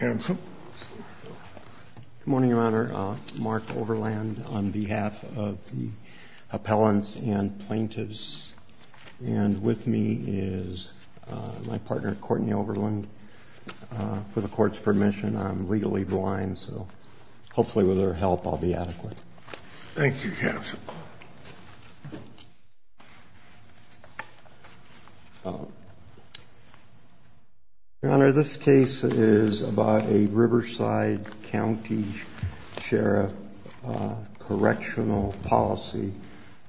Good morning, Your Honor. Mark Overland on behalf of the appellants and plaintiffs. And with me is my partner, Courtney Overland. With the court's permission, I'm legally blind, so hopefully with her help I'll be adequate. Your Honor, this case is about a Riverside County Sheriff correctional policy,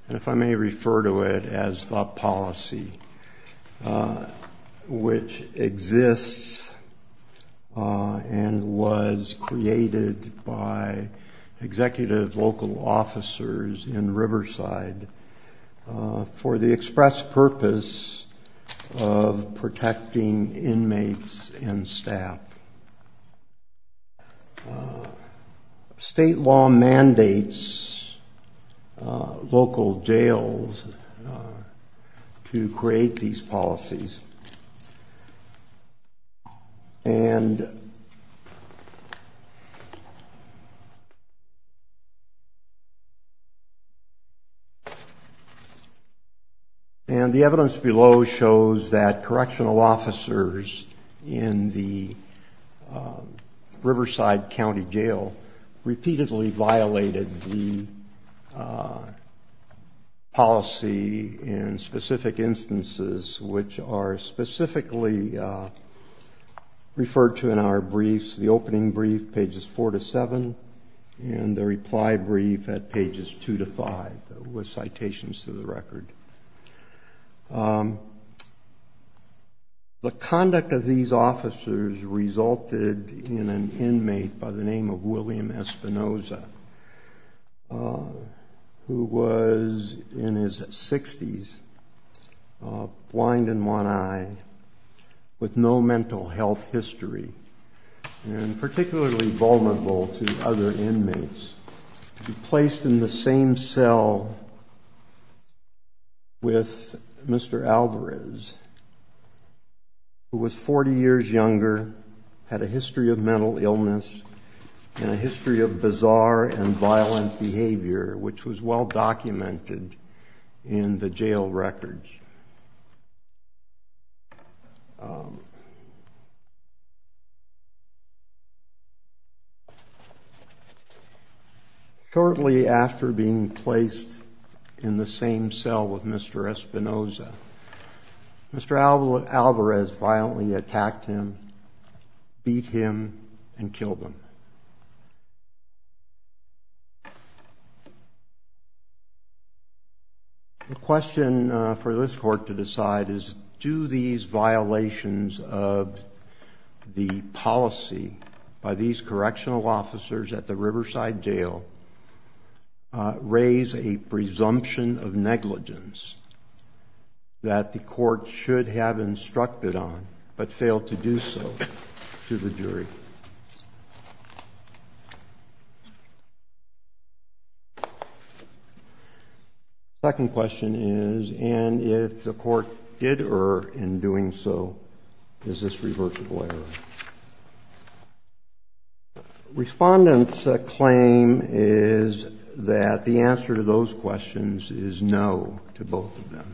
and if I may refer to it as the policy, which exists and was created by executive local officers in the city of Riverside County. for the express purpose of protecting inmates and staff. State law mandates local jails to create these policies. And the evidence below shows that correctional officers in the Riverside County Jail repeatedly violated the policy in specific instances, which are specifically referred to in our briefs, the opening brief, pages 4 to 7, and the reply brief at pages 2 to 5, with citations to the record. The conduct of these officers resulted in an inmate by the name of William Espinoza, who was in his 60s, blind in one eye, with no mental health history, and particularly vulnerable to other inmates. He was placed in the same cell with Mr. Alvarez, who was 40 years younger, had a history of mental illness, and a history of bizarre and violent behavior, which was well documented in the jail records. Shortly after being placed in the same cell with Mr. Espinoza, Mr. Alvarez violently attacked him, beat him, and killed him. The question for this court to decide is, do these violations of the policy by these correctional officers at the Riverside Jail raise a presumption of negligence that the court should have instructed on, but failed to do so to the jury? The second question is, and if the court did err in doing so, is this reversible error? Respondent's claim is that the answer to those questions is no to both of them.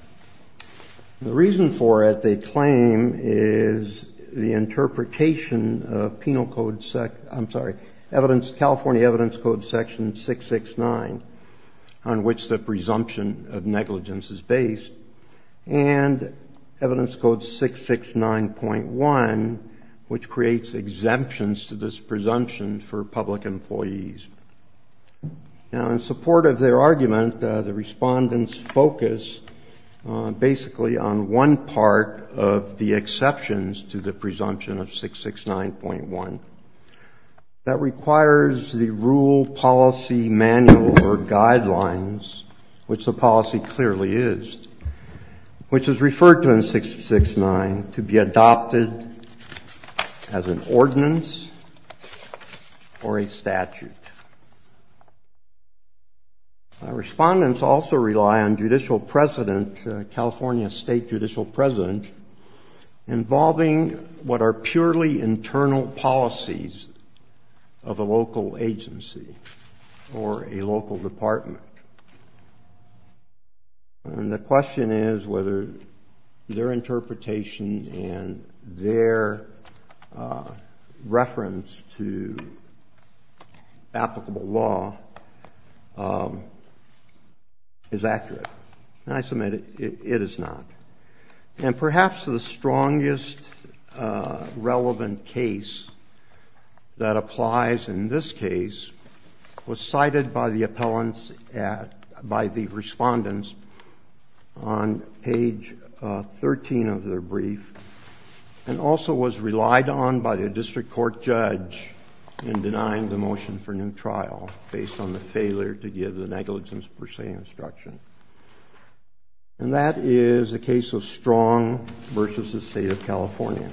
The reason for it, they claim, is the interpretation of California Evidence Code Section 669, on which the presumption of negligence is based, and Evidence Code 669.1, which creates exemptions to this presumption for public employees. Now, in support of their argument, the respondents focus basically on one part of the exceptions to the presumption of 669.1. That requires the Rule Policy Manual or Guidelines, which the policy clearly is, which is referred to in 669, to be adopted as an ordinance or a statute. Respondents also rely on judicial precedent, California State Judicial Precedent, involving what are purely internal policies of a local agency or a local department. And the question is whether their interpretation and their reference to applicable law is accurate. And I submit it is not. And perhaps the strongest relevant case that applies in this case was cited by the respondents on page 13 of their brief, and also was relied on by the district court judge in denying the motion for new trial, based on the failure to give the negligence per se instruction. And that is the case of Strong versus the State of California.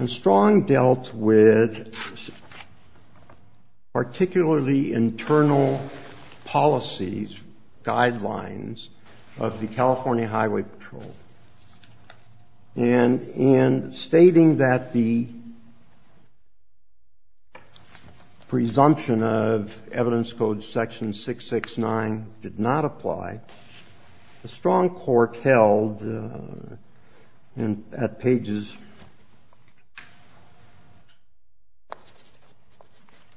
And Strong dealt with particularly internal policies, guidelines, of the California Highway Patrol. And in stating that the presumption of Evidence Code Section 669 did not apply, the Strong court held at pages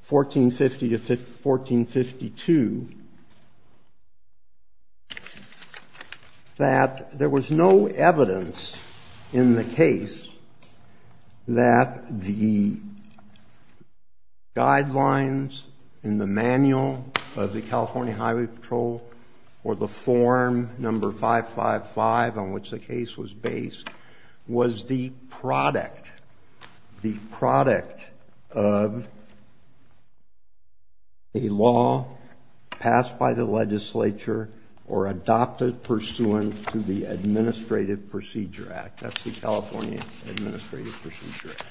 1450 to 1452 that there was no way in which the State of California could in the case that the guidelines in the manual of the California Highway Patrol, or the form number 555 on which the case was based, was the product, the product of a law passed by the legislature or adopted pursuant to the administrative procedure act. That's the California Administrative Procedure Act.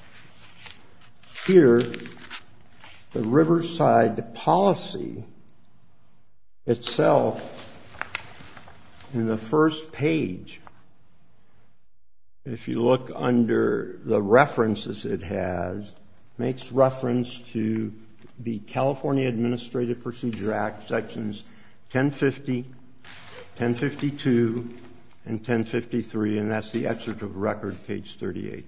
Here, the Riverside policy itself in the first page, if you look under the references it has, makes reference to the California Administrative Procedure Act sections 1050, 1052, and 1053. And that's the excerpt of the record, page 38.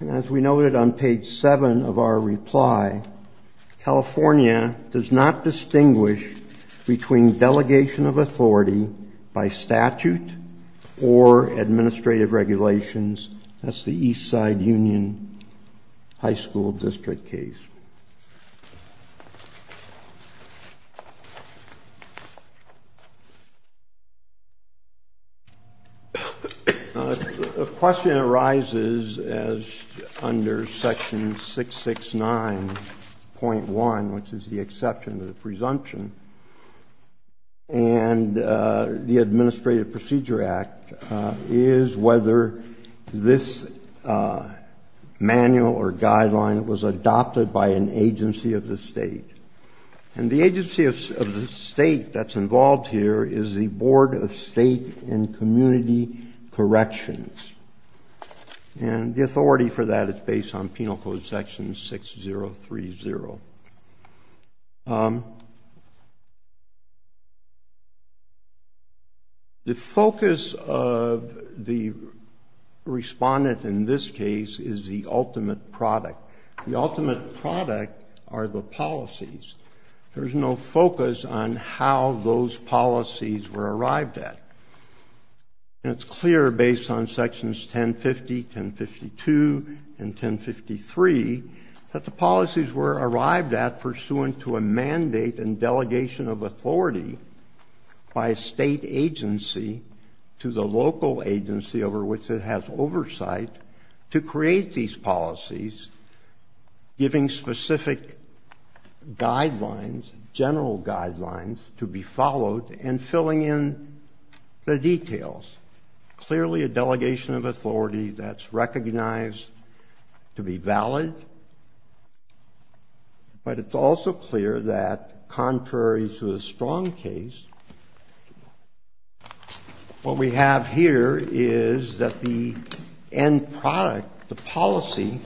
And as we noted on page 7 of our reply, California does not distinguish between delegation of authority by statute or administrative regulations. That's the Eastside Union High School District case. A question arises as under section 669.1, which is the exception to the presumption, and the Administrative Procedure Act is whether this manual or guideline was adopted by an agency of the state. And the agency of the state that's involved here is the Board of State and Community Corrections. And the authority for that is based on penal code section 6030. The focus of the respondent in this case is the ultimate product. The ultimate product are the policies. There's no focus on how those policies were arrived at. And it's clear, based on sections 1050, 1052, and 1053, that the policies were arrived at pursuant to a mandate and delegation of authority by a state agency to the local agency over which it has oversight to create these policies, giving specific guidelines, general guidelines to be followed, and filling in the details. Clearly a delegation of authority that's recognized to be valid. But it's also clear that contrary to the strong case, what we have here is that the end product, the policy,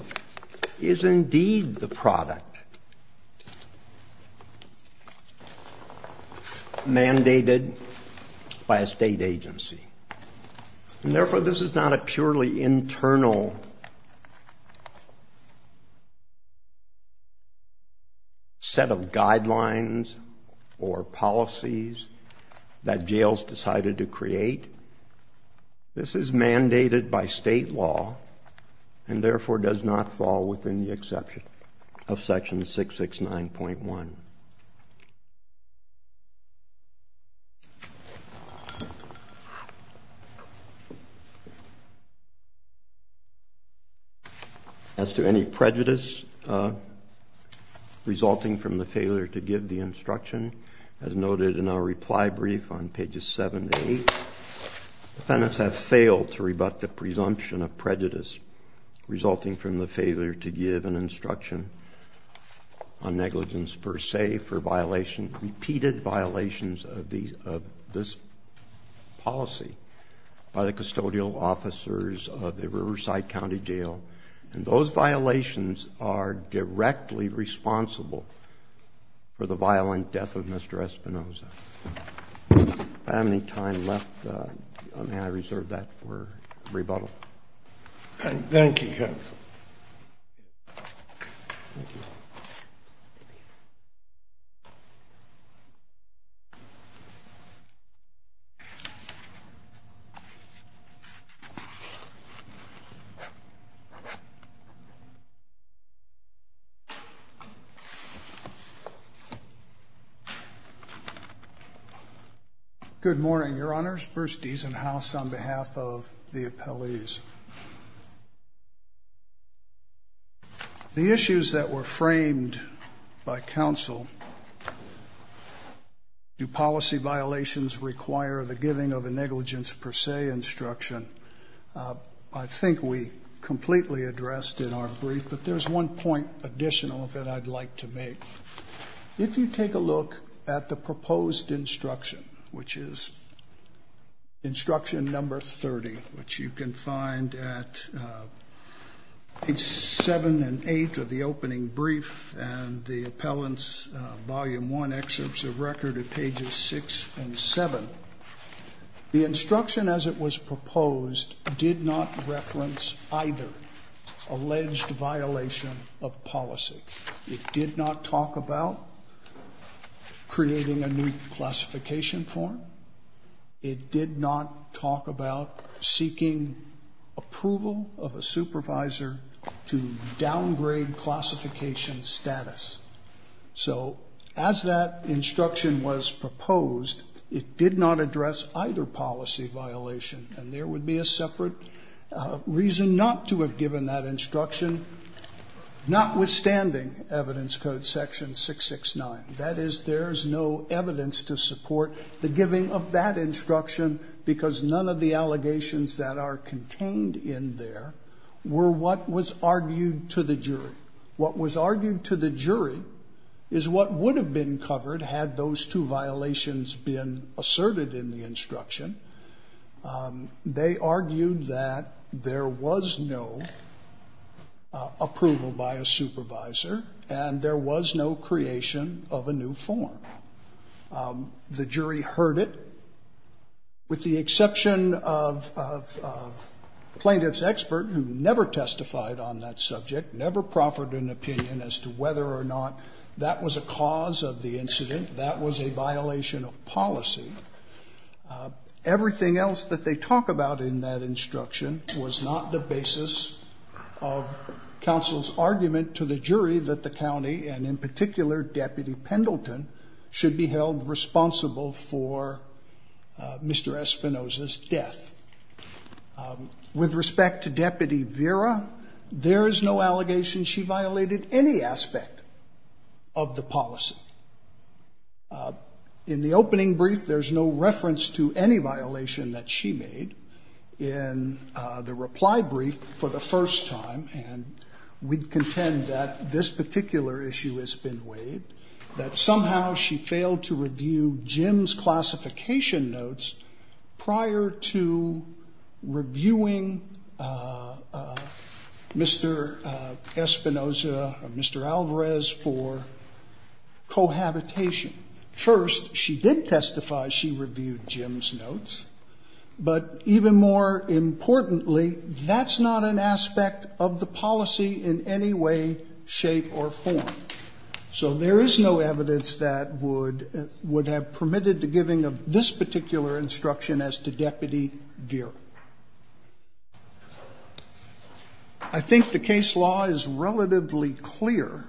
is indeed the product mandated by a state agency. And therefore, this is not a purely internal set of guidelines or policies that jails decided to create. This is mandated by state law and therefore does not fall within the exception of section 669.1. As to any prejudice resulting from the failure to give the instruction, as noted in our reply brief on pages 7 to 8, defendants have failed to rebut the presumption of prejudice resulting from the failure to give an instruction on negligence per se for violations of state law. Repeated violations of this policy by the custodial officers of the Riverside County Jail. And those violations are directly responsible for the violent death of Mr. Espinoza. If I have any time left, may I reserve that for rebuttal? Thank you. Thank you. Thank you. Good morning, Your Honors. Bruce Deason House on behalf of the appellees. The issues that were framed by counsel, do policy violations require the giving of a negligence per se instruction, I think we completely addressed in our brief, but there's one point additional that I'd like to make. If you take a look at the proposed instruction, which is instruction number 30, which you can find at page 7 and 8 of the opening brief and the appellant's volume 1 excerpts of record at pages 6 and 7. The instruction as it was proposed did not reference either alleged violation of policy. It did not talk about creating a new classification form. It did not talk about seeking approval of a supervisor to downgrade classification status. So as that instruction was proposed, it did not address either policy violation. And there would be a separate reason not to have given that instruction, notwithstanding evidence code section 669. That is, there is no evidence to support the giving of that instruction because none of the allegations that are contained in there were what was argued to the jury. What was argued to the jury is what would have been covered had those two violations been asserted in the instruction. They argued that there was no approval by a supervisor and there was no creation of a new form. The jury heard it. With the exception of plaintiff's expert, who never testified on that subject, never proffered an opinion as to whether or not that was a cause of the incident, that was a violation of policy. Everything else that they talk about in that instruction was not the basis of counsel's argument to the jury that the county, and in particular Deputy Pendleton, should be held responsible for Mr. Espinoza's death. With respect to Deputy Vera, there is no allegation she violated any aspect of the policy. In the opening brief, there is no reference to any violation that she made. In the reply brief for the first time, and we contend that this particular issue has been weighed, that somehow she failed to review Jim's classification notes prior to reviewing Mr. Espinoza or Mr. Alvarez for cohabitation. First, she did testify she reviewed Jim's notes, but even more importantly, that's not an aspect of the policy in any way, shape, or form. So there is no evidence that would have permitted the giving of this particular instruction as to Deputy Vera. I think the case law is relatively clear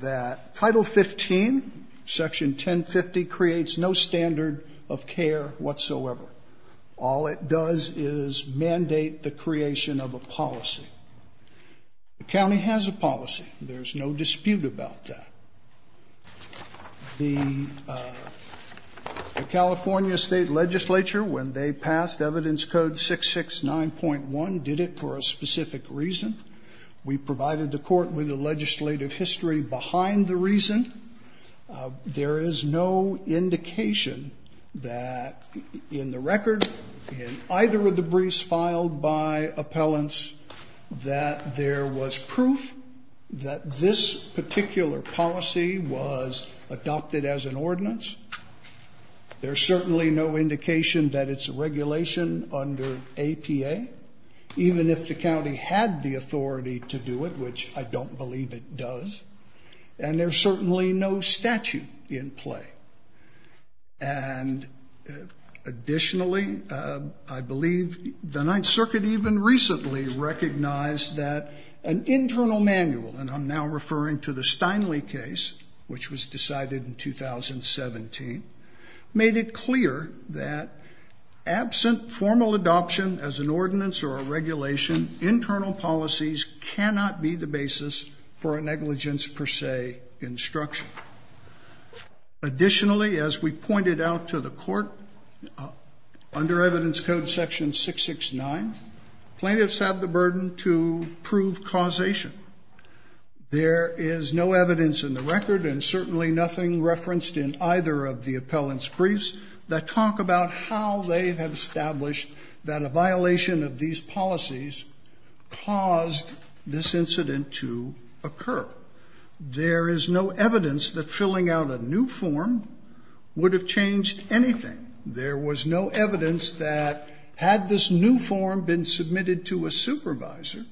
that Title 15, Section 1050, creates no standard of care whatsoever. All it does is mandate the creation of a policy. The county has a policy. There's no dispute about that. The California State Legislature, when they passed Evidence Code 669.1, did it for a specific reason. We provided the Court with a legislative history behind the reason. There is no indication that in the record, in either of the briefs filed by appellants, that there was proof that this particular policy was adopted as an ordinance. There's certainly no indication that it's a regulation under APA, even if the county had the authority to do it, which I don't believe it does. And there's certainly no statute in play. And additionally, I believe the Ninth Circuit even recently recognized that an internal manual, and I'm now referring to the Steinle case, which was decided in 2017, made it clear that absent formal adoption as an ordinance or a regulation, internal policies cannot be the basis for a negligence per se instruction. Additionally, as we pointed out to the Court, under Evidence Code Section 669, plaintiffs have the burden to prove causation. There is no evidence in the record, and certainly nothing referenced in either of the appellant's briefs, that talk about how they have established that a violation of these policies caused this incident to occur. There is no evidence that filling out a new form would have changed anything. There was no evidence that, had this new form been submitted to a supervisor,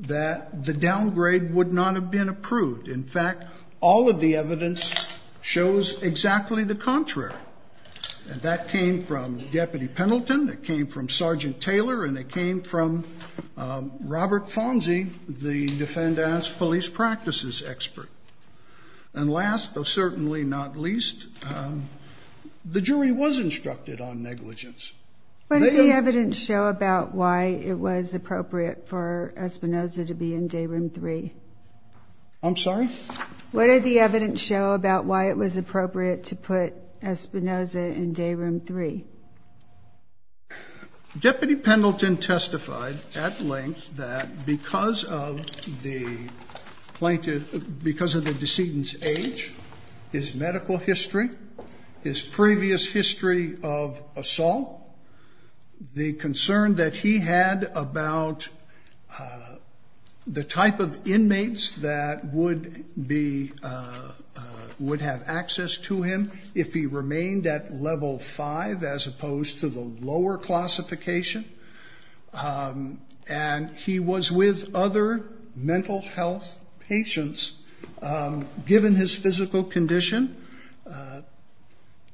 that the downgrade would not have been approved. In fact, all of the evidence shows exactly the contrary. And that came from Deputy Pendleton. It came from Sergeant Taylor. And it came from Robert Fonzi, the defendant's police practices expert. And last, though certainly not least, the jury was instructed on negligence. What did the evidence show about why it was appropriate for Espinoza to be in Day Room 3? I'm sorry? What did the evidence show about why it was appropriate to put Espinoza in Day Room 3? Deputy Pendleton testified at length that because of the plaintiff, because of the decedent's age, his medical history, his previous history of assault, the concern that he had about the type of inmates that would have access to him if he remained at Level 5 as opposed to the lower classification. And he was with other mental health patients. Given his physical condition,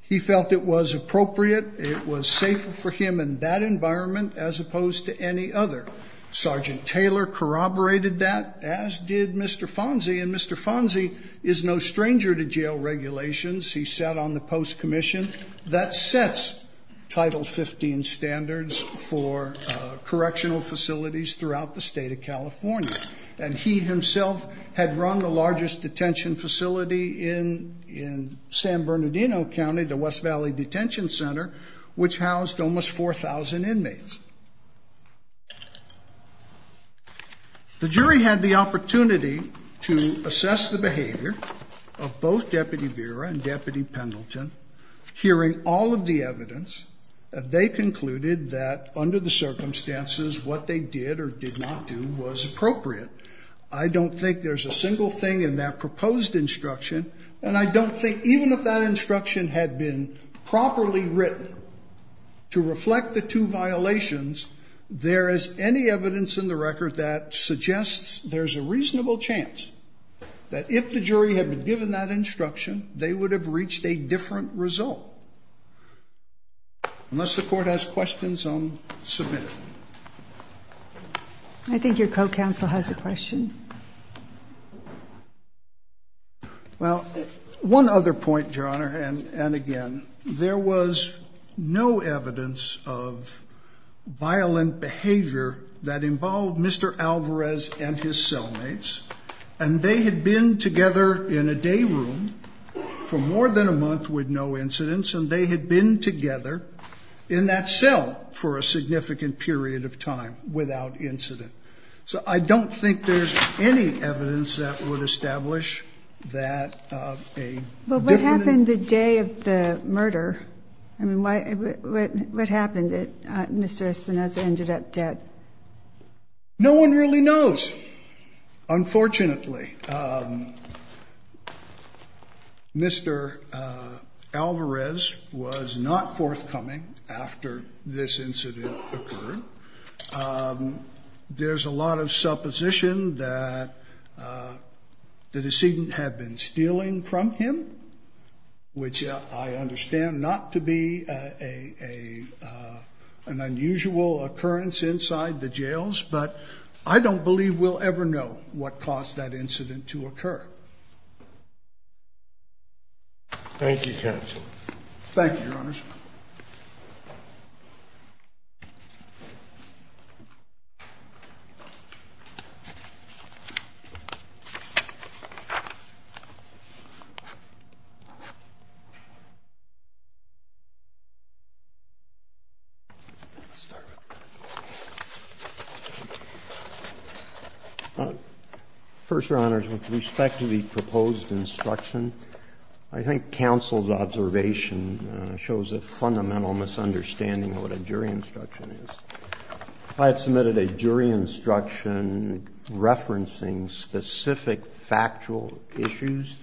he felt it was appropriate, it was safe for him in that environment as opposed to any other. Sergeant Taylor corroborated that, as did Mr. Fonzi. And Mr. Fonzi is no stranger to jail regulations. He sat on the post commission that sets Title 15 standards for correctional facilities throughout the state of California. And he himself had run the largest detention facility in San Bernardino County, the West Valley Detention Center, which housed almost 4,000 inmates. The jury had the opportunity to assess the behavior of both Deputy Vera and Deputy Pendleton. Hearing all of the evidence, they concluded that under the circumstances what they did or did not do was appropriate. I don't think there's a single thing in that proposed instruction, and I don't think even if that instruction had been properly written to reflect the two violations, there is any evidence in the record that suggests there's a reasonable chance that if the jury had been given that instruction, they would have reached a different result. Unless the Court has questions, I'm submitting. I think your co-counsel has a question. Well, one other point, Your Honor, and again. There was no evidence of violent behavior that involved Mr. Alvarez and his cellmates, and they had been together in a day room for more than a month with no incidents, and they had been together in that cell for a significant period of time without incident. So I don't think there's any evidence that would establish that a different. But what happened the day of the murder? I mean, what happened that Mr. Espinoza ended up dead? No one really knows, unfortunately. Mr. Alvarez was not forthcoming after this incident occurred. There's a lot of supposition that the decedent had been stealing from him, which I understand not to be an unusual occurrence inside the jails, but I don't believe we'll ever know what caused that incident to occur. Thank you, counsel. Thank you, Your Honors. First, Your Honors, with respect to the proposed instruction, I think counsel's observation shows a fundamental misunderstanding of what a jury instruction is. If I had submitted a jury instruction referencing specific factual issues,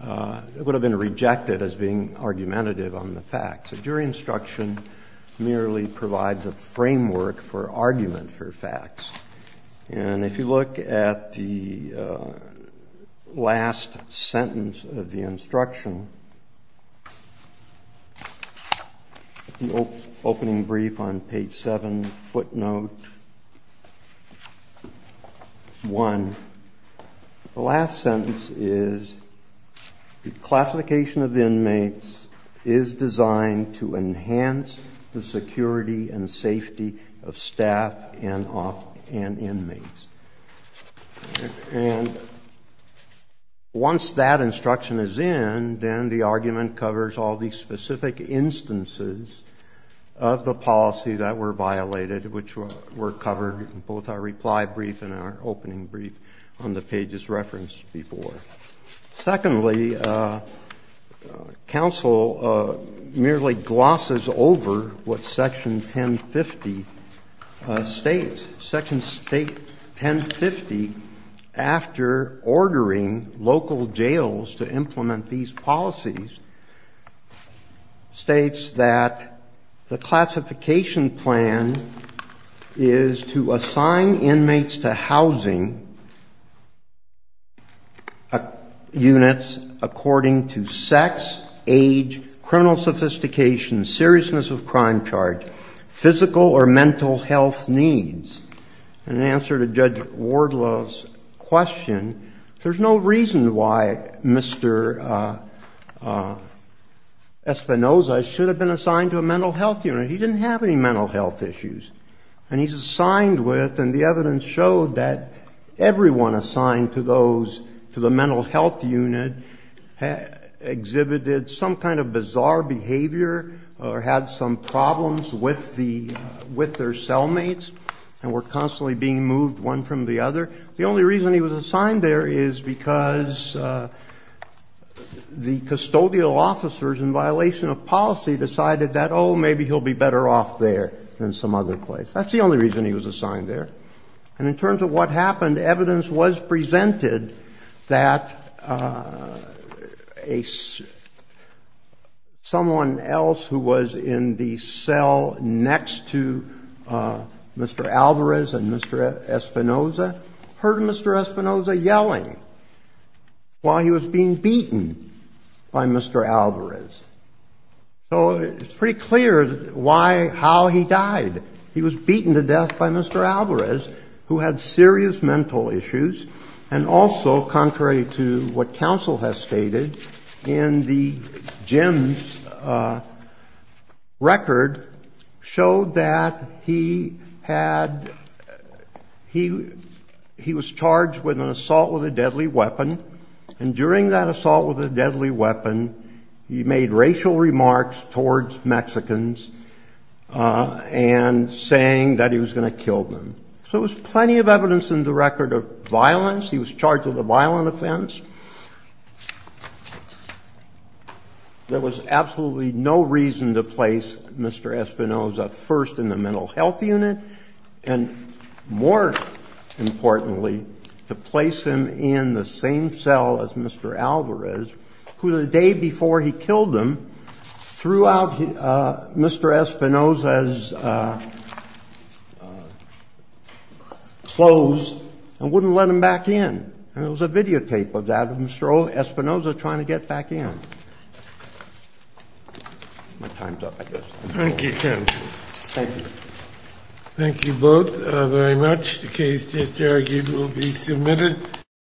it would have been rejected as being argumentative on the facts. A jury instruction merely provides a framework for argument for facts. And if you look at the last sentence of the instruction, the opening brief on page 7, footnote 1, the last sentence is, The classification of inmates is designed to enhance the security and safety of staff and inmates. And once that instruction is in, then the argument covers all the specific instances of the policy that were violated, which were covered in both our reply brief and our opening brief on the pages referenced before. Secondly, counsel merely glosses over what Section 1050 states. Section State 1050, after ordering local jails to implement these policies, states that the classification plan is to assign inmates to housing units according to sex, age, criminal sophistication, seriousness of crime charge, physical or mental health needs. In answer to Judge Wardlaw's question, there's no reason why Mr. Espinoza should have been assigned to a mental health unit. He didn't have any mental health issues. And he's assigned with, and the evidence showed that everyone assigned to those, to the mental health unit, exhibited some kind of bizarre behavior or had some problems with their cellmates and were constantly being moved one from the other. The only reason he was assigned there is because the custodial officers, in violation of policy, decided that, oh, maybe he'll be better off there than some other place. That's the only reason he was assigned there. And in terms of what happened, evidence was presented that someone else who was in the cell next to Mr. Alvarez and Mr. Espinoza heard Mr. Espinoza yelling while he was being beaten by Mr. Alvarez. So it's pretty clear why, how he died. He was beaten to death by Mr. Alvarez, who had serious mental issues. And also, contrary to what counsel has stated in the Jim's record, showed that he had, he was charged with an assault with a deadly weapon. And during that assault with a deadly weapon, he made racial remarks towards Mexicans. And saying that he was going to kill them. So there was plenty of evidence in the record of violence. He was charged with a violent offense. There was absolutely no reason to place Mr. Espinoza first in the mental health unit. And more importantly, to place him in the same cell as Mr. Alvarez, who the day before he killed him, threw out Mr. Espinoza's clothes and wouldn't let him back in. And there was a videotape of that of Mr. Espinoza trying to get back in. My time's up, I guess. Thank you, counsel. Thank you. Thank you both very much. The case, as argued, will be submitted.